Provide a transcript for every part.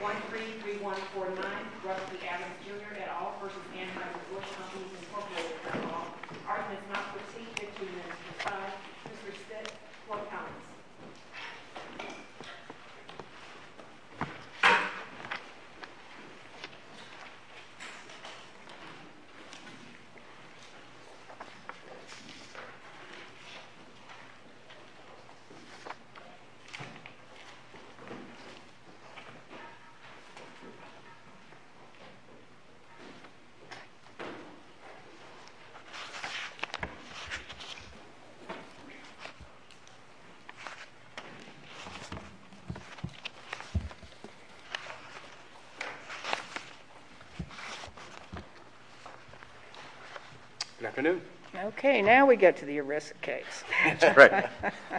133149, Rusty Adams Jr. et al. v. Anheuser Busch Companies, Inc. Art has not received 15 minutes of his time. Mr. Spitz, floor comments. Good afternoon. Okay, now we get to the arisicates. That's right.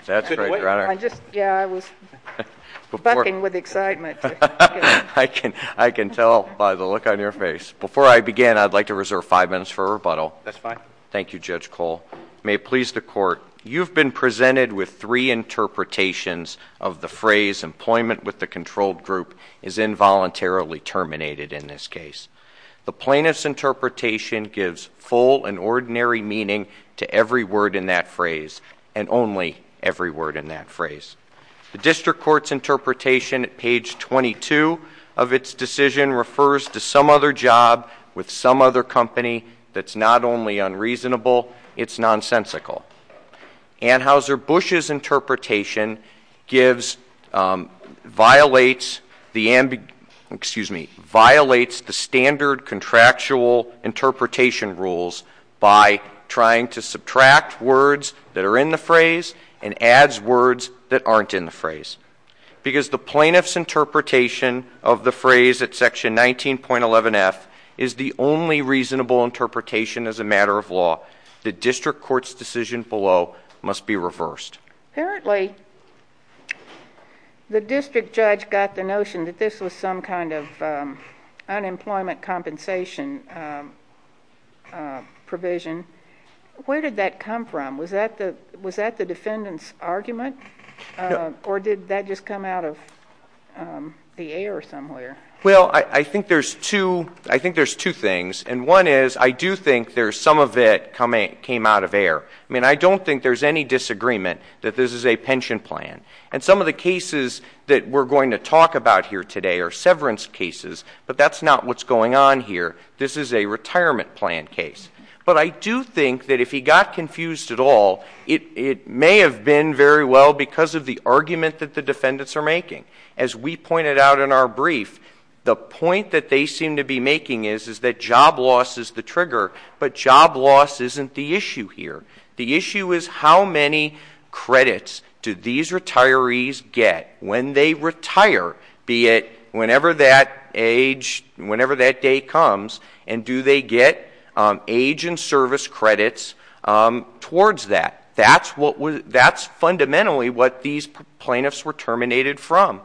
That's right, Your Honor. Yeah, I was bucking with excitement. I can tell by the look on your face. Before I begin, I'd like to reserve five minutes for rebuttal. That's fine. Thank you, Judge Cole. May it please the Court, you've been presented with three interpretations of the phrase employment with the controlled group is involuntarily terminated in this case. The plaintiff's interpretation gives full and ordinary meaning to every word in that phrase and only every word in that phrase. The district court's interpretation at page 22 of its decision refers to some other job with some other company that's not only unreasonable, it's nonsensical. Anheuser Busch's interpretation violates the standard contractual interpretation rules by trying to subtract words that are in the phrase and adds words that aren't in the phrase. Because the plaintiff's interpretation of the phrase at section 19.11F is the only reasonable interpretation as a matter of law, the district court's decision below must be reversed. Apparently the district judge got the notion that this was some kind of unemployment compensation provision. Where did that come from? Was that the defendant's argument? Or did that just come out of the air somewhere? Well, I think there's two things. One is I do think some of it came out of air. I mean, I don't think there's any disagreement that this is a pension plan. And some of the cases that we're going to talk about here today are severance cases, but that's not what's going on here. This is a retirement plan case. But I do think that if he got confused at all, it may have been very well because of the argument that the defendants are making. As we pointed out in our brief, the point that they seem to be making is that job loss is the trigger, but job loss isn't the issue here. The issue is how many credits do these retirees get when they retire, be it whenever that age, whenever that day comes, and do they get age and service credits towards that? That's fundamentally what these plaintiffs were terminated from.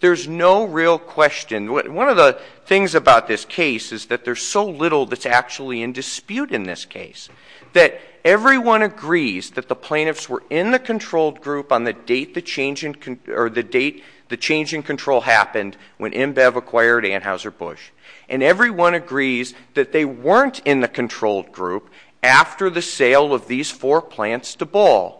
There's no real question. One of the things about this case is that there's so little that's actually in dispute in this case, that everyone agrees that the plaintiffs were in the controlled group on the date the change in control happened when IMBEV acquired Anheuser-Busch. And everyone agrees that they weren't in the controlled group after the sale of these four plants to Ball.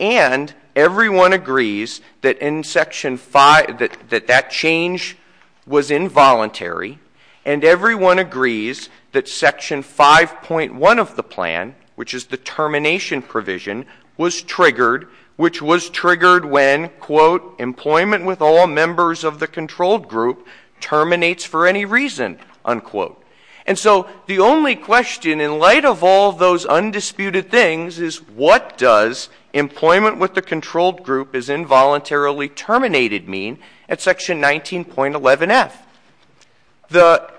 And everyone agrees that that change was involuntary. And everyone agrees that Section 5.1 of the plan, which is the termination provision, was triggered, which was triggered when, quote, employment with all members of the controlled group terminates for any reason, unquote. And so the only question in light of all those undisputed things is what does employment with the controlled group as involuntarily terminated mean at Section 19.11F? The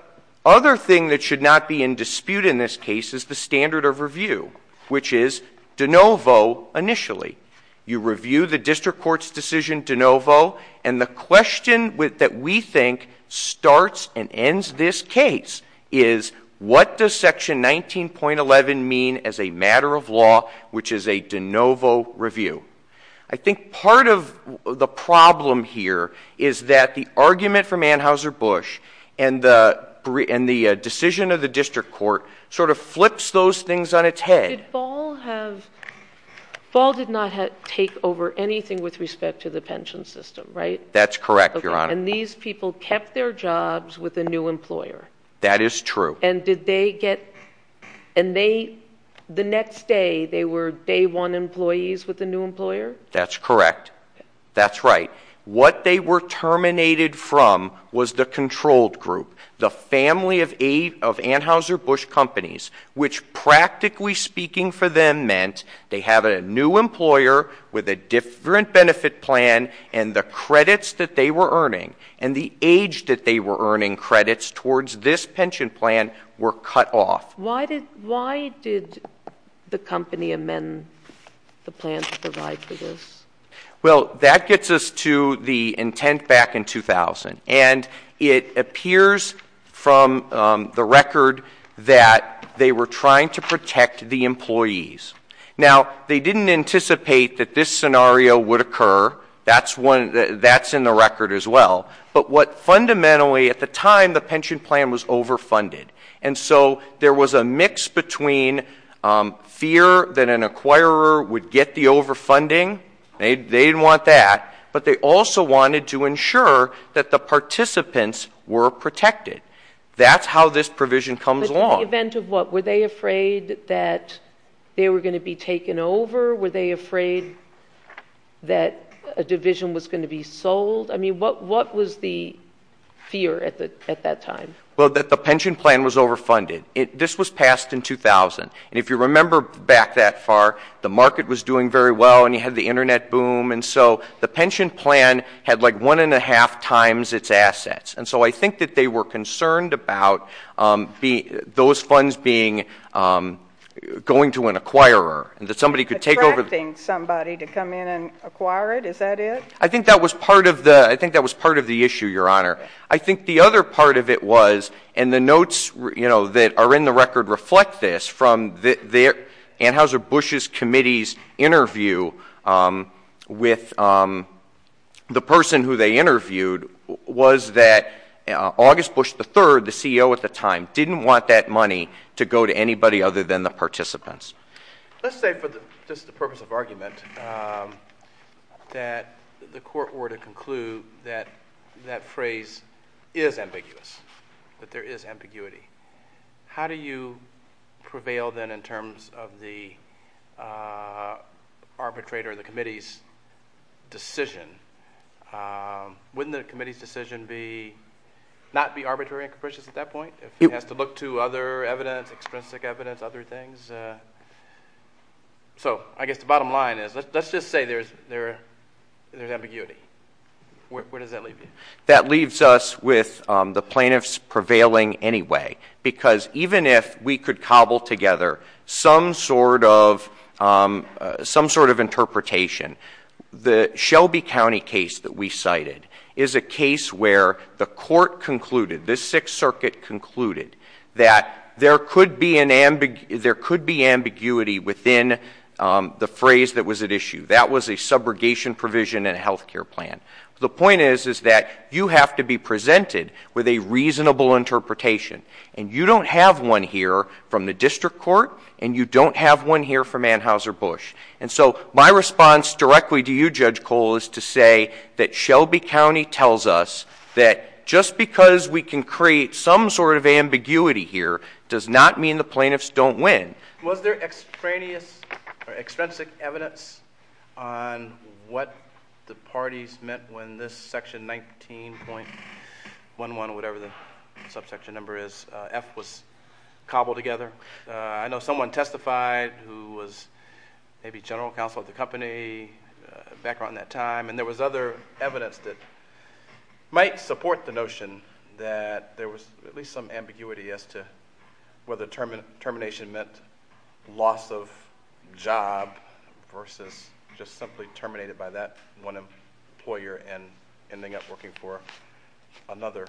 other thing that should not be in dispute in this case is the standard of review, which is de novo initially. And the question that we think starts and ends this case is what does Section 19.11 mean as a matter of law, which is a de novo review? I think part of the problem here is that the argument from Anheuser-Busch and the decision of the district court sort of flips those things on its head. Did Ball have, Ball did not take over anything with respect to the pension system, right? That's correct, Your Honor. And these people kept their jobs with a new employer. That is true. And did they get, and they, the next day they were day one employees with a new employer? That's correct. That's right. What they were terminated from was the controlled group, the family of Anheuser-Busch companies, which practically speaking for them meant they have a new employer with a different benefit plan and the credits that they were earning and the age that they were earning credits towards this pension plan were cut off. Why did the company amend the plan to provide for this? Well, that gets us to the intent back in 2000. And it appears from the record that they were trying to protect the employees. Now, they didn't anticipate that this scenario would occur. That's in the record as well. But what fundamentally at the time, the pension plan was overfunded. And so there was a mix between fear that an acquirer would get the overfunding, they didn't want that, but they also wanted to ensure that the participants were protected. That's how this provision comes along. But in the event of what? Were they afraid that they were going to be taken over? Were they afraid that a division was going to be sold? I mean, what was the fear at that time? Well, that the pension plan was overfunded. This was passed in 2000. And if you remember back that far, the market was doing very well and you had the Internet boom. And so the pension plan had like one and a half times its assets. And so I think that they were concerned about those funds going to an acquirer. Attracting somebody to come in and acquire it, is that it? I think that was part of the issue, Your Honor. I think the other part of it was, and the notes that are in the record reflect this, from Anheuser-Busch's committee's interview with the person who they interviewed, was that August Bush III, the CEO at the time, didn't want that money to go to anybody other than the participants. Let's say for the purpose of argument that the court were to conclude that that phrase is ambiguous, that there is ambiguity. How do you prevail then in terms of the arbitrator, the committee's decision? Wouldn't the committee's decision not be arbitrary and capricious at that point? If it has to look to other evidence, extrinsic evidence, other things? So I guess the bottom line is, let's just say there's ambiguity. Where does that leave you? That leaves us with the plaintiffs prevailing anyway. Because even if we could cobble together some sort of interpretation, the Shelby County case that we cited is a case where the court concluded, this Sixth Circuit concluded, that there could be ambiguity within the phrase that was at issue. That was a subrogation provision in a health care plan. The point is that you have to be presented with a reasonable interpretation. And you don't have one here from the district court, and you don't have one here from Anheuser-Busch. And so my response directly to you, Judge Cole, is to say that Shelby County tells us that just because we can create some sort of ambiguity here does not mean the plaintiffs don't win. Was there extraneous or extrinsic evidence on what the parties meant when this section 19.11, whatever the subsection number is, F was cobbled together? I know someone testified who was maybe general counsel at the company back around that time. And there was other evidence that might support the notion that there was at least some ambiguity as to whether termination meant loss of job versus just simply terminated by that one employer and ending up working for another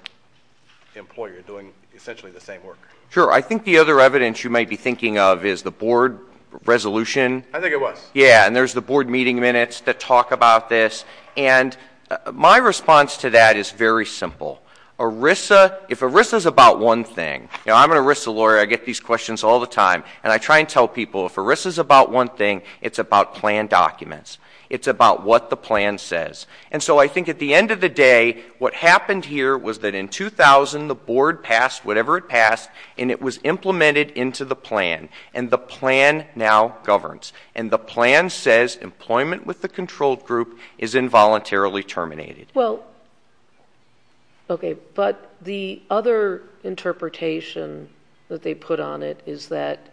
employer doing essentially the same work. Sure. I think the other evidence you might be thinking of is the board resolution. I think it was. Yeah, and there's the board meeting minutes that talk about this. And my response to that is very simple. If ERISA's about one thing, you know, I'm an ERISA lawyer, I get these questions all the time, and I try and tell people if ERISA's about one thing, it's about plan documents. It's about what the plan says. And so I think at the end of the day, what happened here was that in 2000, the board passed whatever it passed, and it was implemented into the plan, and the plan now governs. And the plan says employment with the controlled group is involuntarily terminated. Well, okay, but the other interpretation that they put on it is that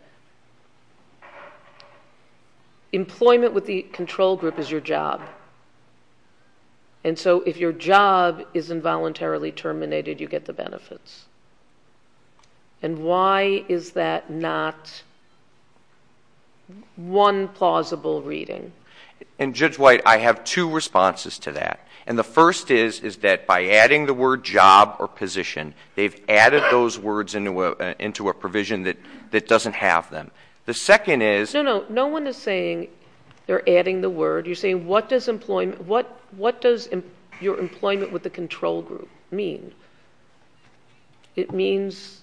employment with the controlled group is your job. And so if your job is involuntarily terminated, you get the benefits. And why is that not one plausible reading? And, Judge White, I have two responses to that. And the first is that by adding the word job or position, they've added those words into a provision that doesn't have them. The second is- No, no, no one is saying they're adding the word. You're saying what does your employment with the controlled group mean? It means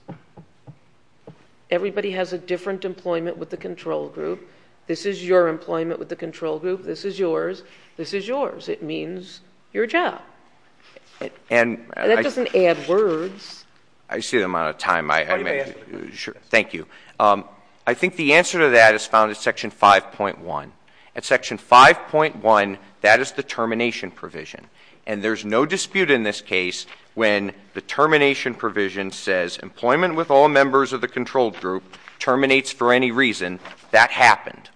everybody has a different employment with the controlled group. This is your employment with the controlled group. This is yours. This is yours. It means your job. And that doesn't add words. I see the amount of time I have. Thank you. I think the answer to that is found in Section 5.1. In Section 5.1, that is the termination provision. And there's no dispute in this case when the termination provision says employment with all members of the controlled group terminates for any reason. That happened.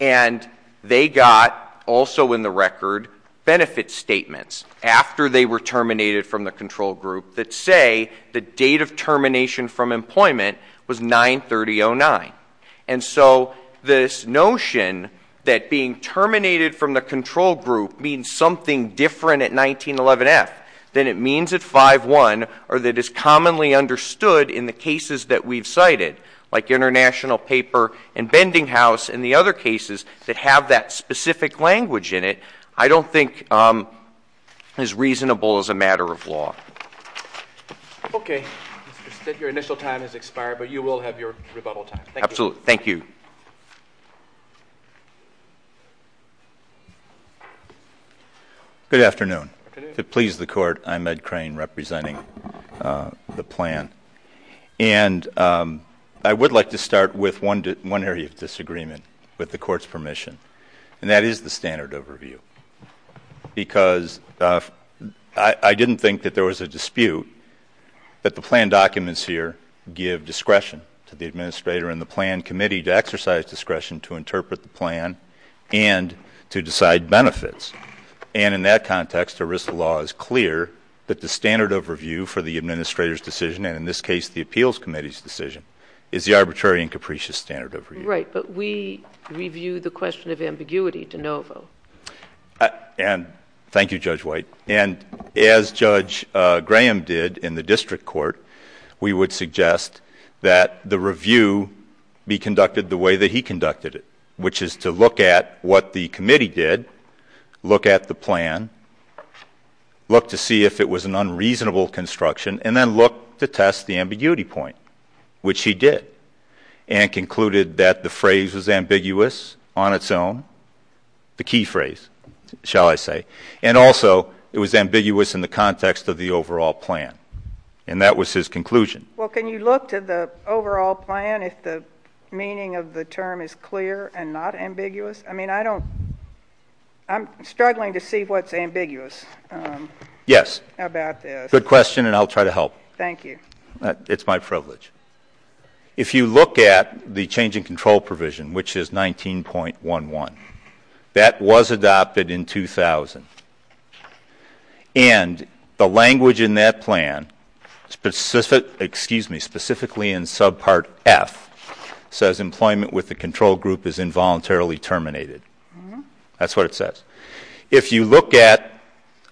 And they got, also in the record, benefit statements after they were terminated from the controlled group that say the date of termination from employment was 9-30-09. And so this notion that being terminated from the controlled group means something different at 1911F than it means at 5.1 or that is commonly understood in the cases that we've cited, like International Paper and Bending House and the other cases that have that specific language in it, I don't think is reasonable as a matter of law. Okay. Your initial time has expired, but you will have your rebuttal time. Absolutely. Thank you. Good afternoon. To please the Court, I'm Ed Crane representing the plan. And I would like to start with one area of disagreement with the Court's permission, and that is the standard overview. Because I didn't think that there was a dispute that the plan documents here give discretion to the administrator and the plan committee to exercise discretion to interpret the plan and to decide benefits. And in that context, ERISA law is clear that the standard overview for the administrator's decision, and in this case the appeals committee's decision, is the arbitrary and capricious standard overview. Right. But we review the question of ambiguity de novo. And thank you, Judge White. And as Judge Graham did in the district court, we would suggest that the review be conducted the way that he conducted it, which is to look at what the committee did, look at the plan, look to see if it was an unreasonable construction, and then look to test the ambiguity point, which he did, and concluded that the phrase was ambiguous on its own, the key phrase, shall I say, and also it was ambiguous in the context of the overall plan. And that was his conclusion. Well, can you look to the overall plan if the meaning of the term is clear and not ambiguous? I mean, I don't ‑‑ I'm struggling to see what's ambiguous about this. Yes. Good question, and I'll try to help. Thank you. It's my privilege. If you look at the change in control provision, which is 19.11, that was adopted in 2000. And the language in that plan, specifically in subpart F, says employment with the control group is involuntarily terminated. That's what it says. If you look at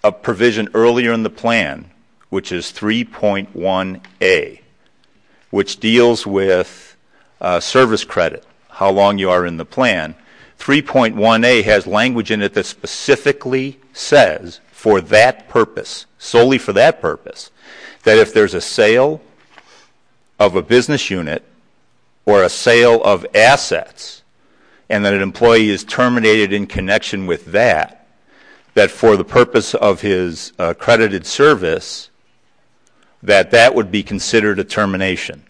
a provision earlier in the plan, which is 3.1A, which deals with service credit, how long you are in the plan, 3.1A has language in it that specifically says for that purpose, solely for that purpose, that if there's a sale of a business unit or a sale of assets and that an employee is terminated in connection with that, that for the purpose of his accredited service, that that would be considered a termination.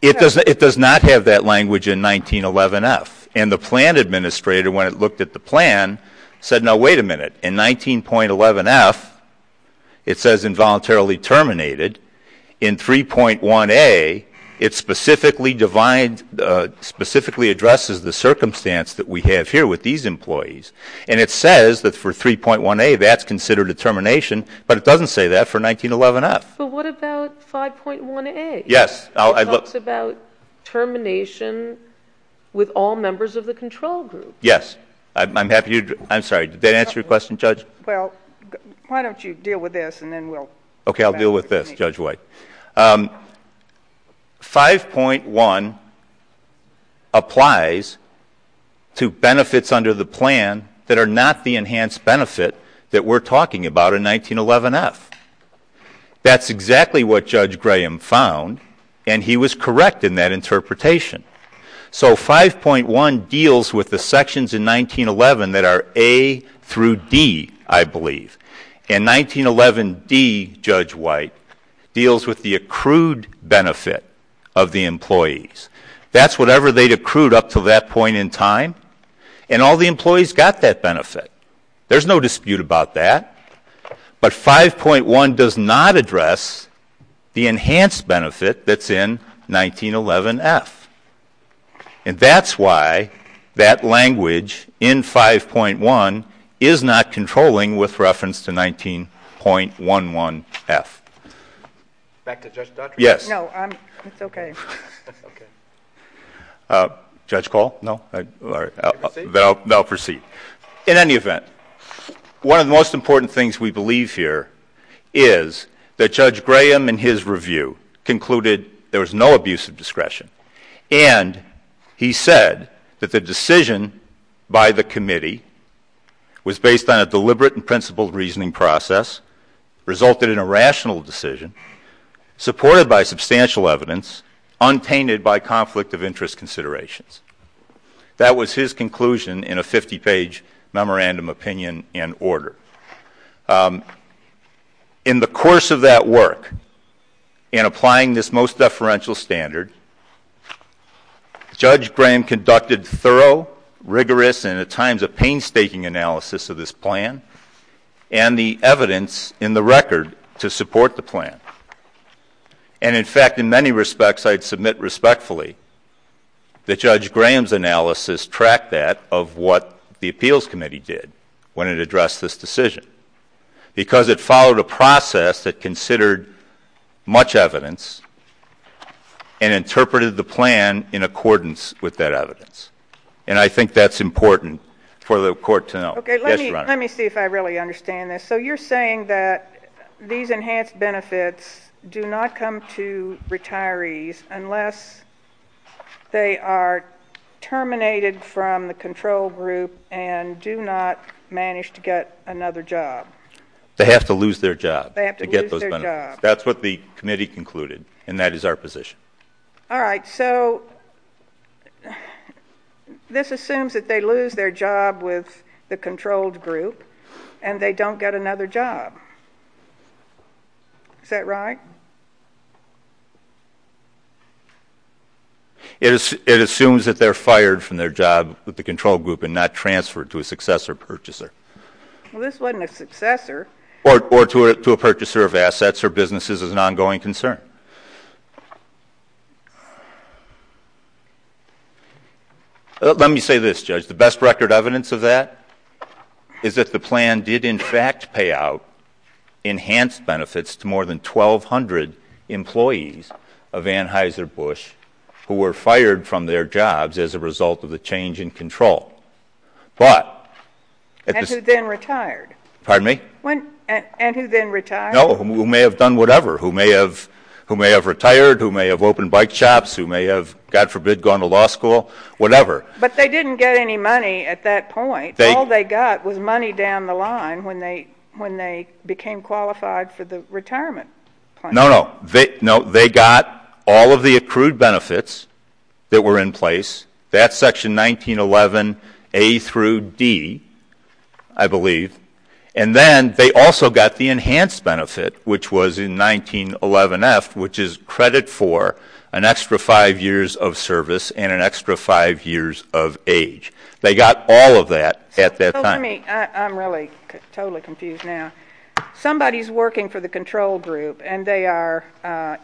It does not have that language in 19.11F. And the plan administrator, when it looked at the plan, said, no, wait a minute. In 19.11F, it says involuntarily terminated. In 3.1A, it specifically addresses the circumstance that we have here with these employees. And it says that for 3.1A, that's considered a termination, but it doesn't say that for 19.11F. But what about 5.1A? Yes. It talks about termination with all members of the control group. Yes. I'm happy to, I'm sorry, did that answer your question, Judge? Well, why don't you deal with this and then we'll. Okay, I'll deal with this, Judge White. 5.1 applies to benefits under the plan that are not the enhanced benefit that we're talking about in 19.11F. That's exactly what Judge Graham found, and he was correct in that interpretation. So 5.1 deals with the sections in 19.11 that are A through D, I believe. And 19.11D, Judge White, deals with the accrued benefit of the employees. That's whatever they'd accrued up to that point in time, and all the employees got that benefit. There's no dispute about that. But 5.1 does not address the enhanced benefit that's in 19.11F. And that's why that language in 5.1 is not controlling with reference to 19.11F. Back to Judge Dodd? Yes. No, it's okay. Okay. Judge Call? No? All right. Then I'll proceed. In any event, one of the most important things we believe here is that Judge Graham, in his review, concluded there was no abuse of discretion, and he said that the decision by the committee was based on a deliberate and principled reasoning process, resulted in a rational decision, supported by substantial evidence, untainted by conflict of interest considerations. That was his conclusion in a 50-page memorandum opinion and order. In the course of that work, in applying this most deferential standard, Judge Graham conducted thorough, rigorous, and at times a painstaking analysis of this plan, and the evidence in the record to support the plan. And, in fact, in many respects, I'd submit respectfully that Judge Graham's analysis tracked that of what the appeals committee did when it addressed this decision, because it followed a process that considered much evidence and interpreted the plan in accordance with that evidence. And I think that's important for the Court to know. Okay. Let me see if I really understand this. So you're saying that these enhanced benefits do not come to retirees unless they are terminated from the control group and do not manage to get another job? They have to lose their job to get those benefits. They have to lose their job. That's what the committee concluded, and that is our position. All right. So this assumes that they lose their job with the controlled group and they don't get another job. Is that right? It assumes that they're fired from their job with the controlled group and not transferred to a successor purchaser. Well, this wasn't a successor. Or to a purchaser of assets or businesses is an ongoing concern. Let me say this, Judge. The best record evidence of that is that the plan did in fact pay out enhanced benefits to more than 1,200 employees of Anheuser-Busch who were fired from their jobs as a result of the change in control. And who then retired. Pardon me? And who then retired. No, who may have done whatever, who may have retired, who may have opened bike shops, who may have, God forbid, gone to law school, whatever. But they didn't get any money at that point. All they got was money down the line when they became qualified for the retirement plan. No, no. No, they got all of the accrued benefits that were in place. That's Section 1911A through D, I believe. And then they also got the enhanced benefit, which was in 1911F, which is credit for an extra five years of service and an extra five years of age. They got all of that at that time. I'm really totally confused now. Somebody is working for the controlled group and they are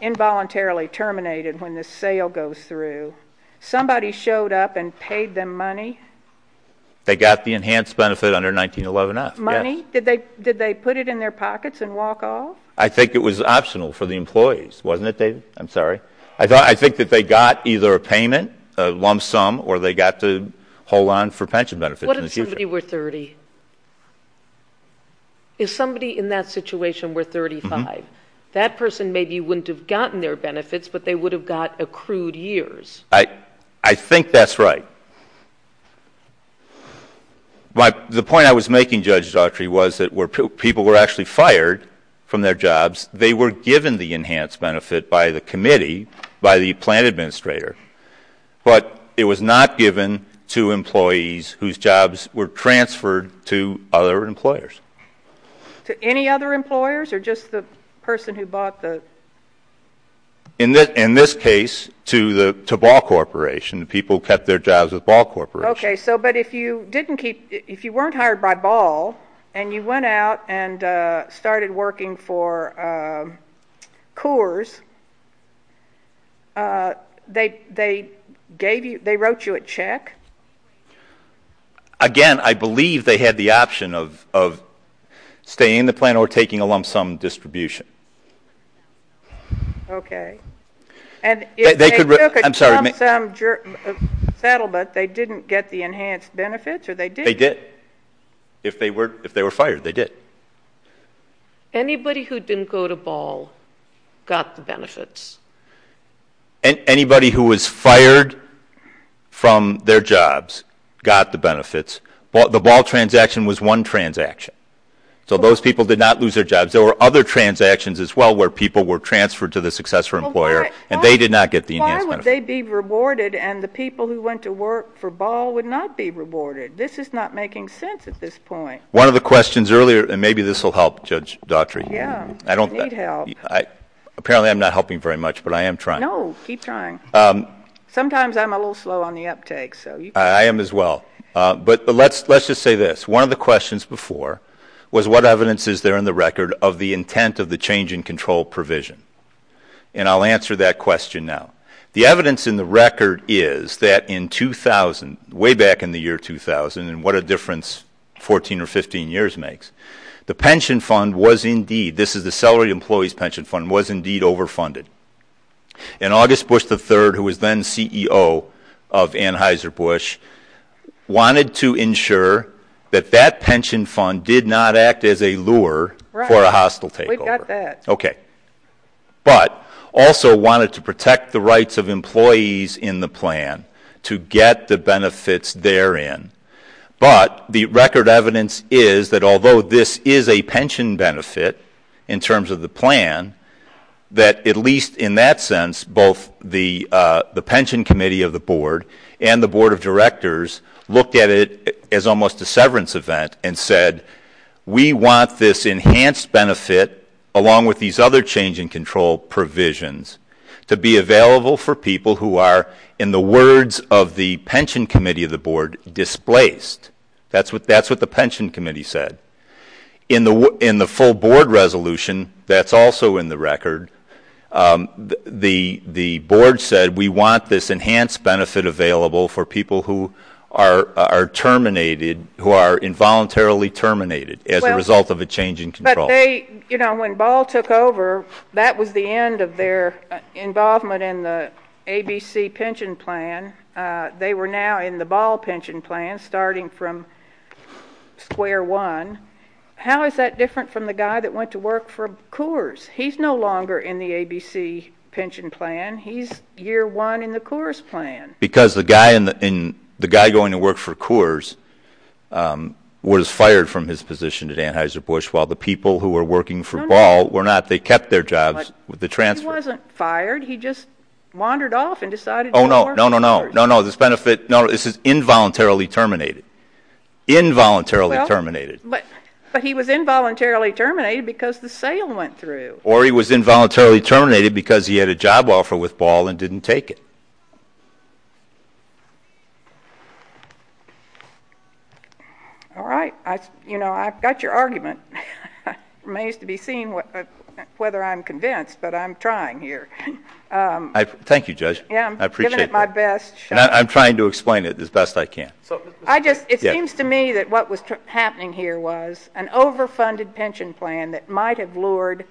involuntarily terminated when the sale goes through. Somebody showed up and paid them money? They got the enhanced benefit under 1911F, yes. Money? Did they put it in their pockets and walk off? I think it was optional for the employees, wasn't it, David? I'm sorry. I think that they got either a payment, a lump sum, or they got to hold on for pension benefits in the future. What if somebody were 30? If somebody in that situation were 35, that person maybe wouldn't have gotten their benefits, but they would have got accrued years. I think that's right. The point I was making, Judge Daughtry, was that where people were actually fired from their jobs, they were given the enhanced benefit by the committee, by the plant administrator, but it was not given to employees whose jobs were transferred to other employers. To any other employers or just the person who bought the? In this case, to Ball Corporation. The people who kept their jobs at Ball Corporation. Okay. But if you weren't hired by Ball and you went out and started working for Coors, they wrote you a check? Again, I believe they had the option of staying in the plant or taking a lump sum distribution. Okay. And if they took a lump sum settlement, they didn't get the enhanced benefits or they did? They did. If they were fired, they did. Anybody who didn't go to Ball got the benefits? Anybody who was fired from their jobs got the benefits. The Ball transaction was one transaction. So those people did not lose their jobs. There were other transactions as well where people were transferred to the successor employer and they did not get the enhanced benefits. Why would they be rewarded and the people who went to work for Ball would not be rewarded? This is not making sense at this point. One of the questions earlier, and maybe this will help, Judge Daughtry. Yeah, you need help. Apparently I'm not helping very much, but I am trying. No, keep trying. Sometimes I'm a little slow on the uptake. I am as well. But let's just say this. One of the questions before was what evidence is there in the record of the intent of the change in control provision? And I'll answer that question now. The evidence in the record is that in 2000, way back in the year 2000, and what a difference 14 or 15 years makes, the pension fund was indeed, this is the celerity employees pension fund, was indeed overfunded. And August Bush III, who was then CEO of Anheuser-Busch, wanted to ensure that that pension fund did not act as a lure for a hostile takeover. Right, we've got that. Okay. But also wanted to protect the rights of employees in the plan to get the benefits therein. But the record evidence is that although this is a pension benefit in terms of the plan, that at least in that sense, both the pension committee of the board and the board of directors looked at it as almost a severance event and said, we want this enhanced benefit along with these other change in control provisions to be available for people who are, in the words of the pension committee of the board, displaced. That's what the pension committee said. In the full board resolution that's also in the record, the board said we want this enhanced benefit available for people who are terminated, who are involuntarily terminated as a result of a change in control. When Ball took over, that was the end of their involvement in the ABC pension plan. They were now in the Ball pension plan, starting from square one. How is that different from the guy that went to work for Coors? He's no longer in the ABC pension plan. He's year one in the Coors plan. Because the guy going to work for Coors was fired from his position at Anheuser-Busch while the people who were working for Ball were not. They kept their jobs with the transfer. He wasn't fired. He just wandered off and decided to work for Coors. Oh, no, no, no, no, no, no. This is involuntarily terminated, involuntarily terminated. But he was involuntarily terminated because the sale went through. Or he was involuntarily terminated because he had a job offer with Ball and didn't take it. All right. I've got your argument. It remains to be seen whether I'm convinced, but I'm trying here. Thank you, Judge. I appreciate that. I'm giving it my best shot. I'm trying to explain it as best I can. It seems to me that what was happening here was an overfunded pension plan that might have lured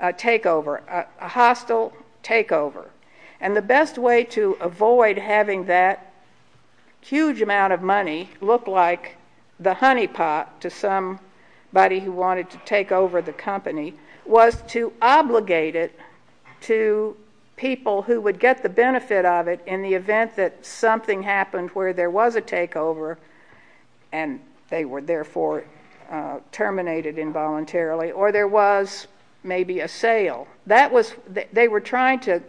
a takeover, a hostile takeover. And the best way to avoid having that huge amount of money look like the honeypot to somebody who wanted to take over the company was to obligate it to people who would get the benefit of it in the event that something happened where there was a takeover and they were therefore terminated involuntarily, or there was maybe a sale. They were trying to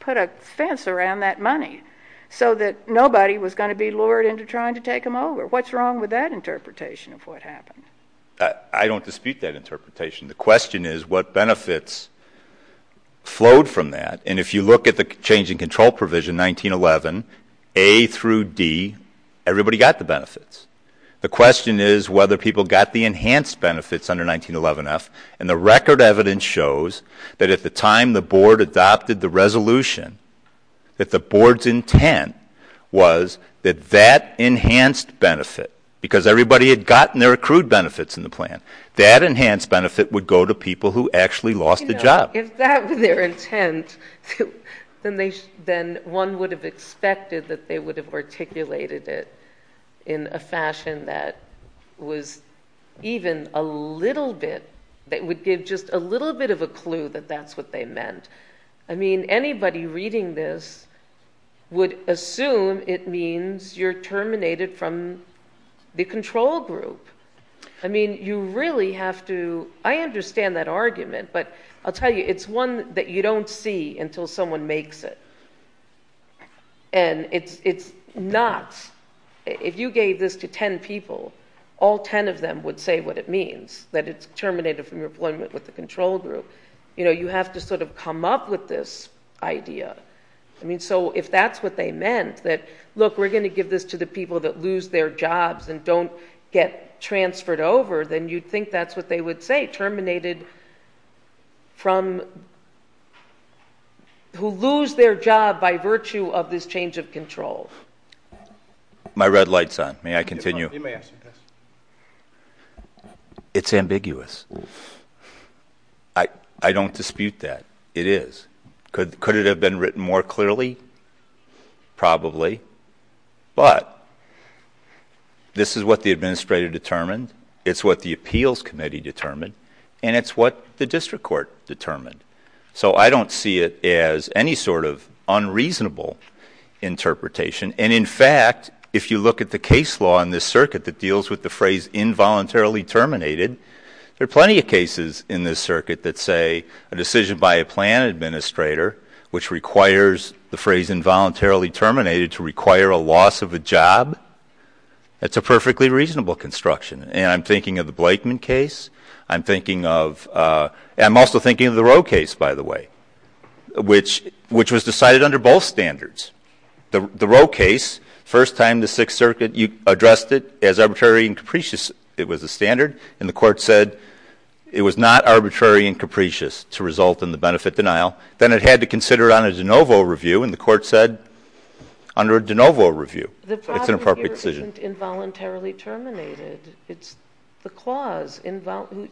put a fence around that money so that nobody was going to be lured into trying to take them over. What's wrong with that interpretation of what happened? I don't dispute that interpretation. The question is what benefits flowed from that. And if you look at the change in control provision, 1911, A through D, everybody got the benefits. The question is whether people got the enhanced benefits under 1911F. And the record evidence shows that at the time the board adopted the resolution, that the board's intent was that that enhanced benefit, because everybody had gotten their accrued benefits in the plan, that enhanced benefit would go to people who actually lost a job. If that were their intent, then one would have expected that they would have articulated it in a fashion that was even a little bit, that would give just a little bit of a clue that that's what they meant. I mean, anybody reading this would assume it means you're terminated from the control group. I mean, you really have to, I understand that argument, but I'll tell you, it's one that you don't see until someone makes it. And it's not, if you gave this to ten people, all ten of them would say what it means, that it's terminated from your employment with the control group. You know, you have to sort of come up with this idea. I mean, so if that's what they meant, that, look, we're going to give this to the people that lose their jobs and don't get transferred over, then you'd think that's what they would say, terminated from, who lose their job by virtue of this change of control. My red light's on. May I continue? You may ask your question. It's ambiguous. I don't dispute that. It is. Could it have been written more clearly? Probably. But this is what the administrator determined. It's what the appeals committee determined. And it's what the district court determined. So I don't see it as any sort of unreasonable interpretation. And, in fact, if you look at the case law in this circuit that deals with the phrase involuntarily terminated, there are plenty of cases in this circuit that say a decision by a plan administrator, which requires the phrase involuntarily terminated to require a loss of a job, that's a perfectly reasonable construction. And I'm thinking of the Blakeman case. I'm thinking of the Roe case, by the way, which was decided under both standards. The Roe case, first time the Sixth Circuit addressed it as arbitrary and capricious. It was a standard. And the court said it was not arbitrary and capricious to result in the benefit denial. Then it had to consider it on a de novo review, and the court said under a de novo review. It's an appropriate decision. The problem here isn't involuntarily terminated. It's the clause,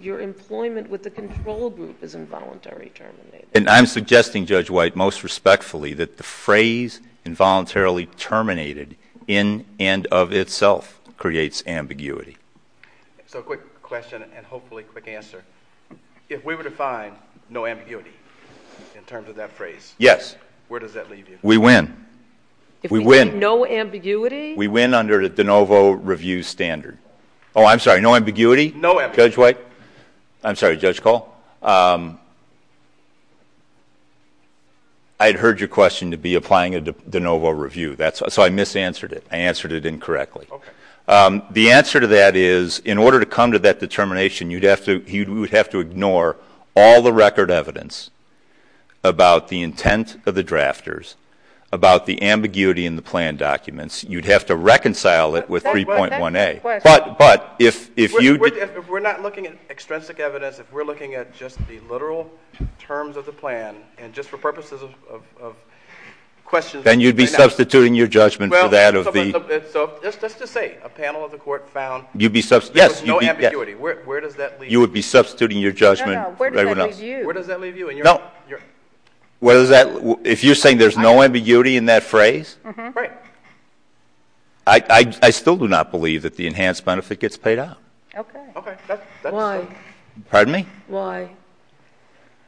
your employment with the control group is involuntarily terminated. And I'm suggesting, Judge White, most respectfully, that the phrase involuntarily terminated in and of itself creates ambiguity. So a quick question and hopefully a quick answer. If we were to find no ambiguity in terms of that phrase, where does that leave you? We win. We win. If we find no ambiguity? We win under a de novo review standard. Oh, I'm sorry. No ambiguity? No ambiguity. Judge White. I'm sorry, Judge Cole. I had heard your question to be applying a de novo review, so I misanswered it. I answered it incorrectly. Okay. The answer to that is in order to come to that determination, you would have to ignore all the record evidence about the intent of the drafters, about the ambiguity in the plan documents. You'd have to reconcile it with 3.1A. But if you — If we're not looking at extrinsic evidence, if we're looking at just the literal terms of the plan and just for purposes of questions — Then you'd be substituting your judgment for that of the — Well, so let's just say a panel of the court found there was no ambiguity. Yes. Where does that leave you? You would be substituting your judgment for everyone else. No, no. Where does that leave you? No. Where does that — If you're saying there's no ambiguity in that phrase? Mm-hmm. Right. I still do not believe that the enhanced benefit gets paid out. Okay. Okay. Why? Pardon me? Why?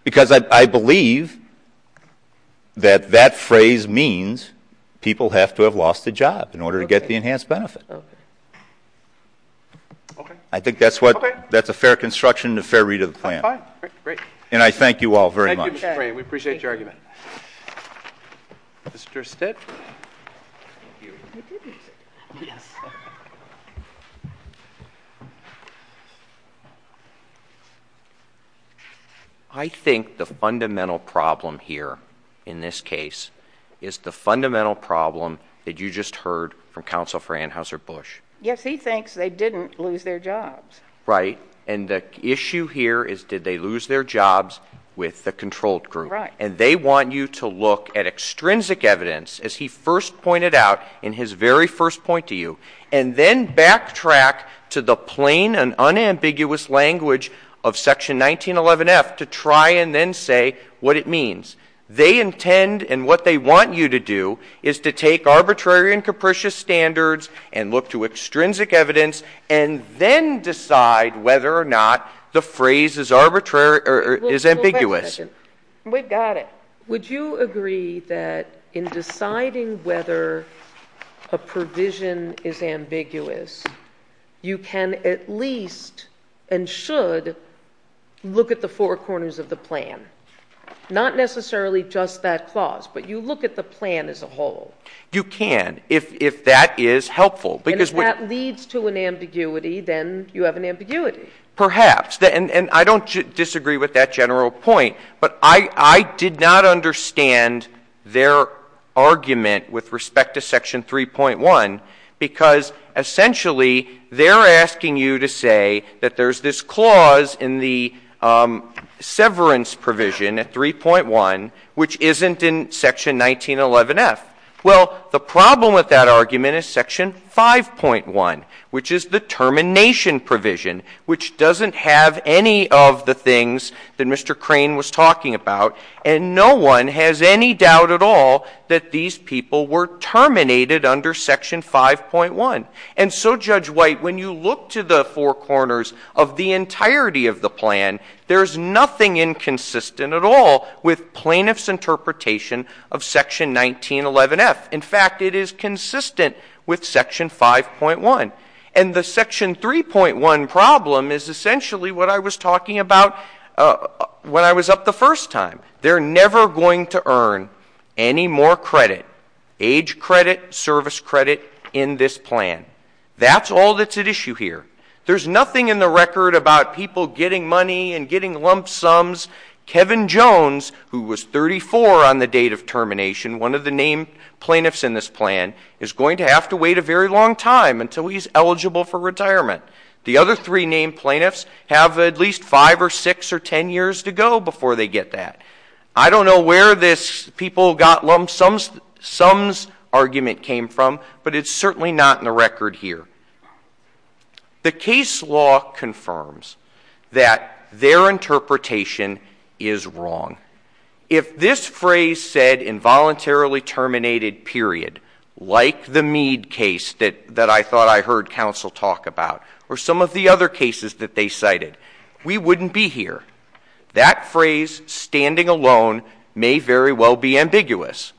Because I believe that that phrase means people have to have lost a job in order to get the enhanced benefit. Okay. Okay. I think that's what — Okay. That's a fair construction and a fair read of the plan. That's fine. Great. And I thank you all very much. Thank you, Mr. Fray. We appreciate your argument. Mr. Stitt. I think the fundamental problem here in this case is the fundamental problem that you just heard from Counsel for Anheuser-Busch. Yes. He thinks they didn't lose their jobs. Right. And the issue here is did they lose their jobs with the controlled group. Right. And they want you to look at extrinsic evidence, as he first pointed out in his very first point to you, and then backtrack to the plain and unambiguous language of Section 1911F to try and then say what it means. They intend, and what they want you to do, is to take arbitrary and capricious standards and look to extrinsic evidence and then decide whether or not the phrase is ambiguous. Wait a second. We've got it. Would you agree that in deciding whether a provision is ambiguous, you can at least and should look at the four corners of the plan, not necessarily just that clause, but you look at the plan as a whole? You can. If that is helpful. And if that leads to an ambiguity, then you have an ambiguity. Perhaps. And I don't disagree with that general point. But I did not understand their argument with respect to Section 3.1 because essentially they're asking you to say that there's this clause in the severance provision at 3.1 which isn't in Section 1911F. Well, the problem with that argument is Section 5.1, which is the termination provision, which doesn't have any of the things that Mr. Crane was talking about, and no one has any doubt at all that these people were terminated under Section 5.1. And so, Judge White, when you look to the four corners of the entirety of the plan, there's nothing inconsistent at all with plaintiff's interpretation of Section 1911F. In fact, it is consistent with Section 5.1. And the Section 3.1 problem is essentially what I was talking about when I was up the first time. They're never going to earn any more credit, age credit, service credit, in this plan. That's all that's at issue here. There's nothing in the record about people getting money and getting lump sums. Kevin Jones, who was 34 on the date of termination, one of the named plaintiffs in this plan, is going to have to wait a very long time until he's eligible for retirement. The other three named plaintiffs have at least five or six or ten years to go before they get that. I don't know where this people got lump sums argument came from, but it's certainly not in the record here. The case law confirms that their interpretation is wrong. If this phrase said, involuntarily terminated, period, like the Meade case that I thought I heard counsel talk about, or some of the other cases that they cited, we wouldn't be here. That phrase, standing alone, may very well be ambiguous,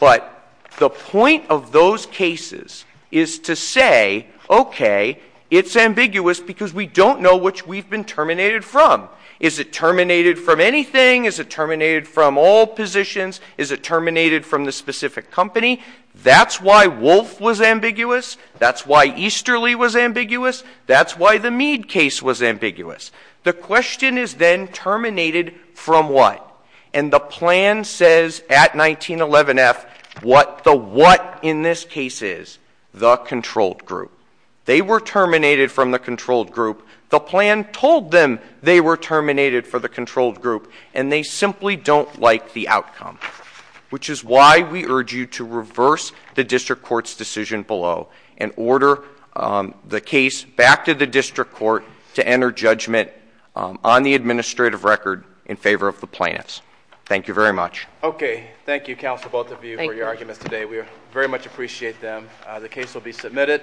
but the point of those cases is to say, okay, it's ambiguous because we don't know which we've been terminated from. Is it terminated from anything? Is it terminated from all positions? Is it terminated from the specific company? That's why Wolfe was ambiguous. That's why Easterly was ambiguous. That's why the Meade case was ambiguous. The question is then terminated from what? And the plan says at 1911F what the what in this case is, the controlled group. They were terminated from the controlled group. The plan told them they were terminated from the controlled group, and they simply don't like the outcome, which is why we urge you to reverse the district court's decision below and order the case back to the district court to enter judgment on the administrative record in favor of the plaintiffs. Thank you very much. Okay. Thank you, counsel, both of you, for your arguments today. We very much appreciate them. The case will be submitted.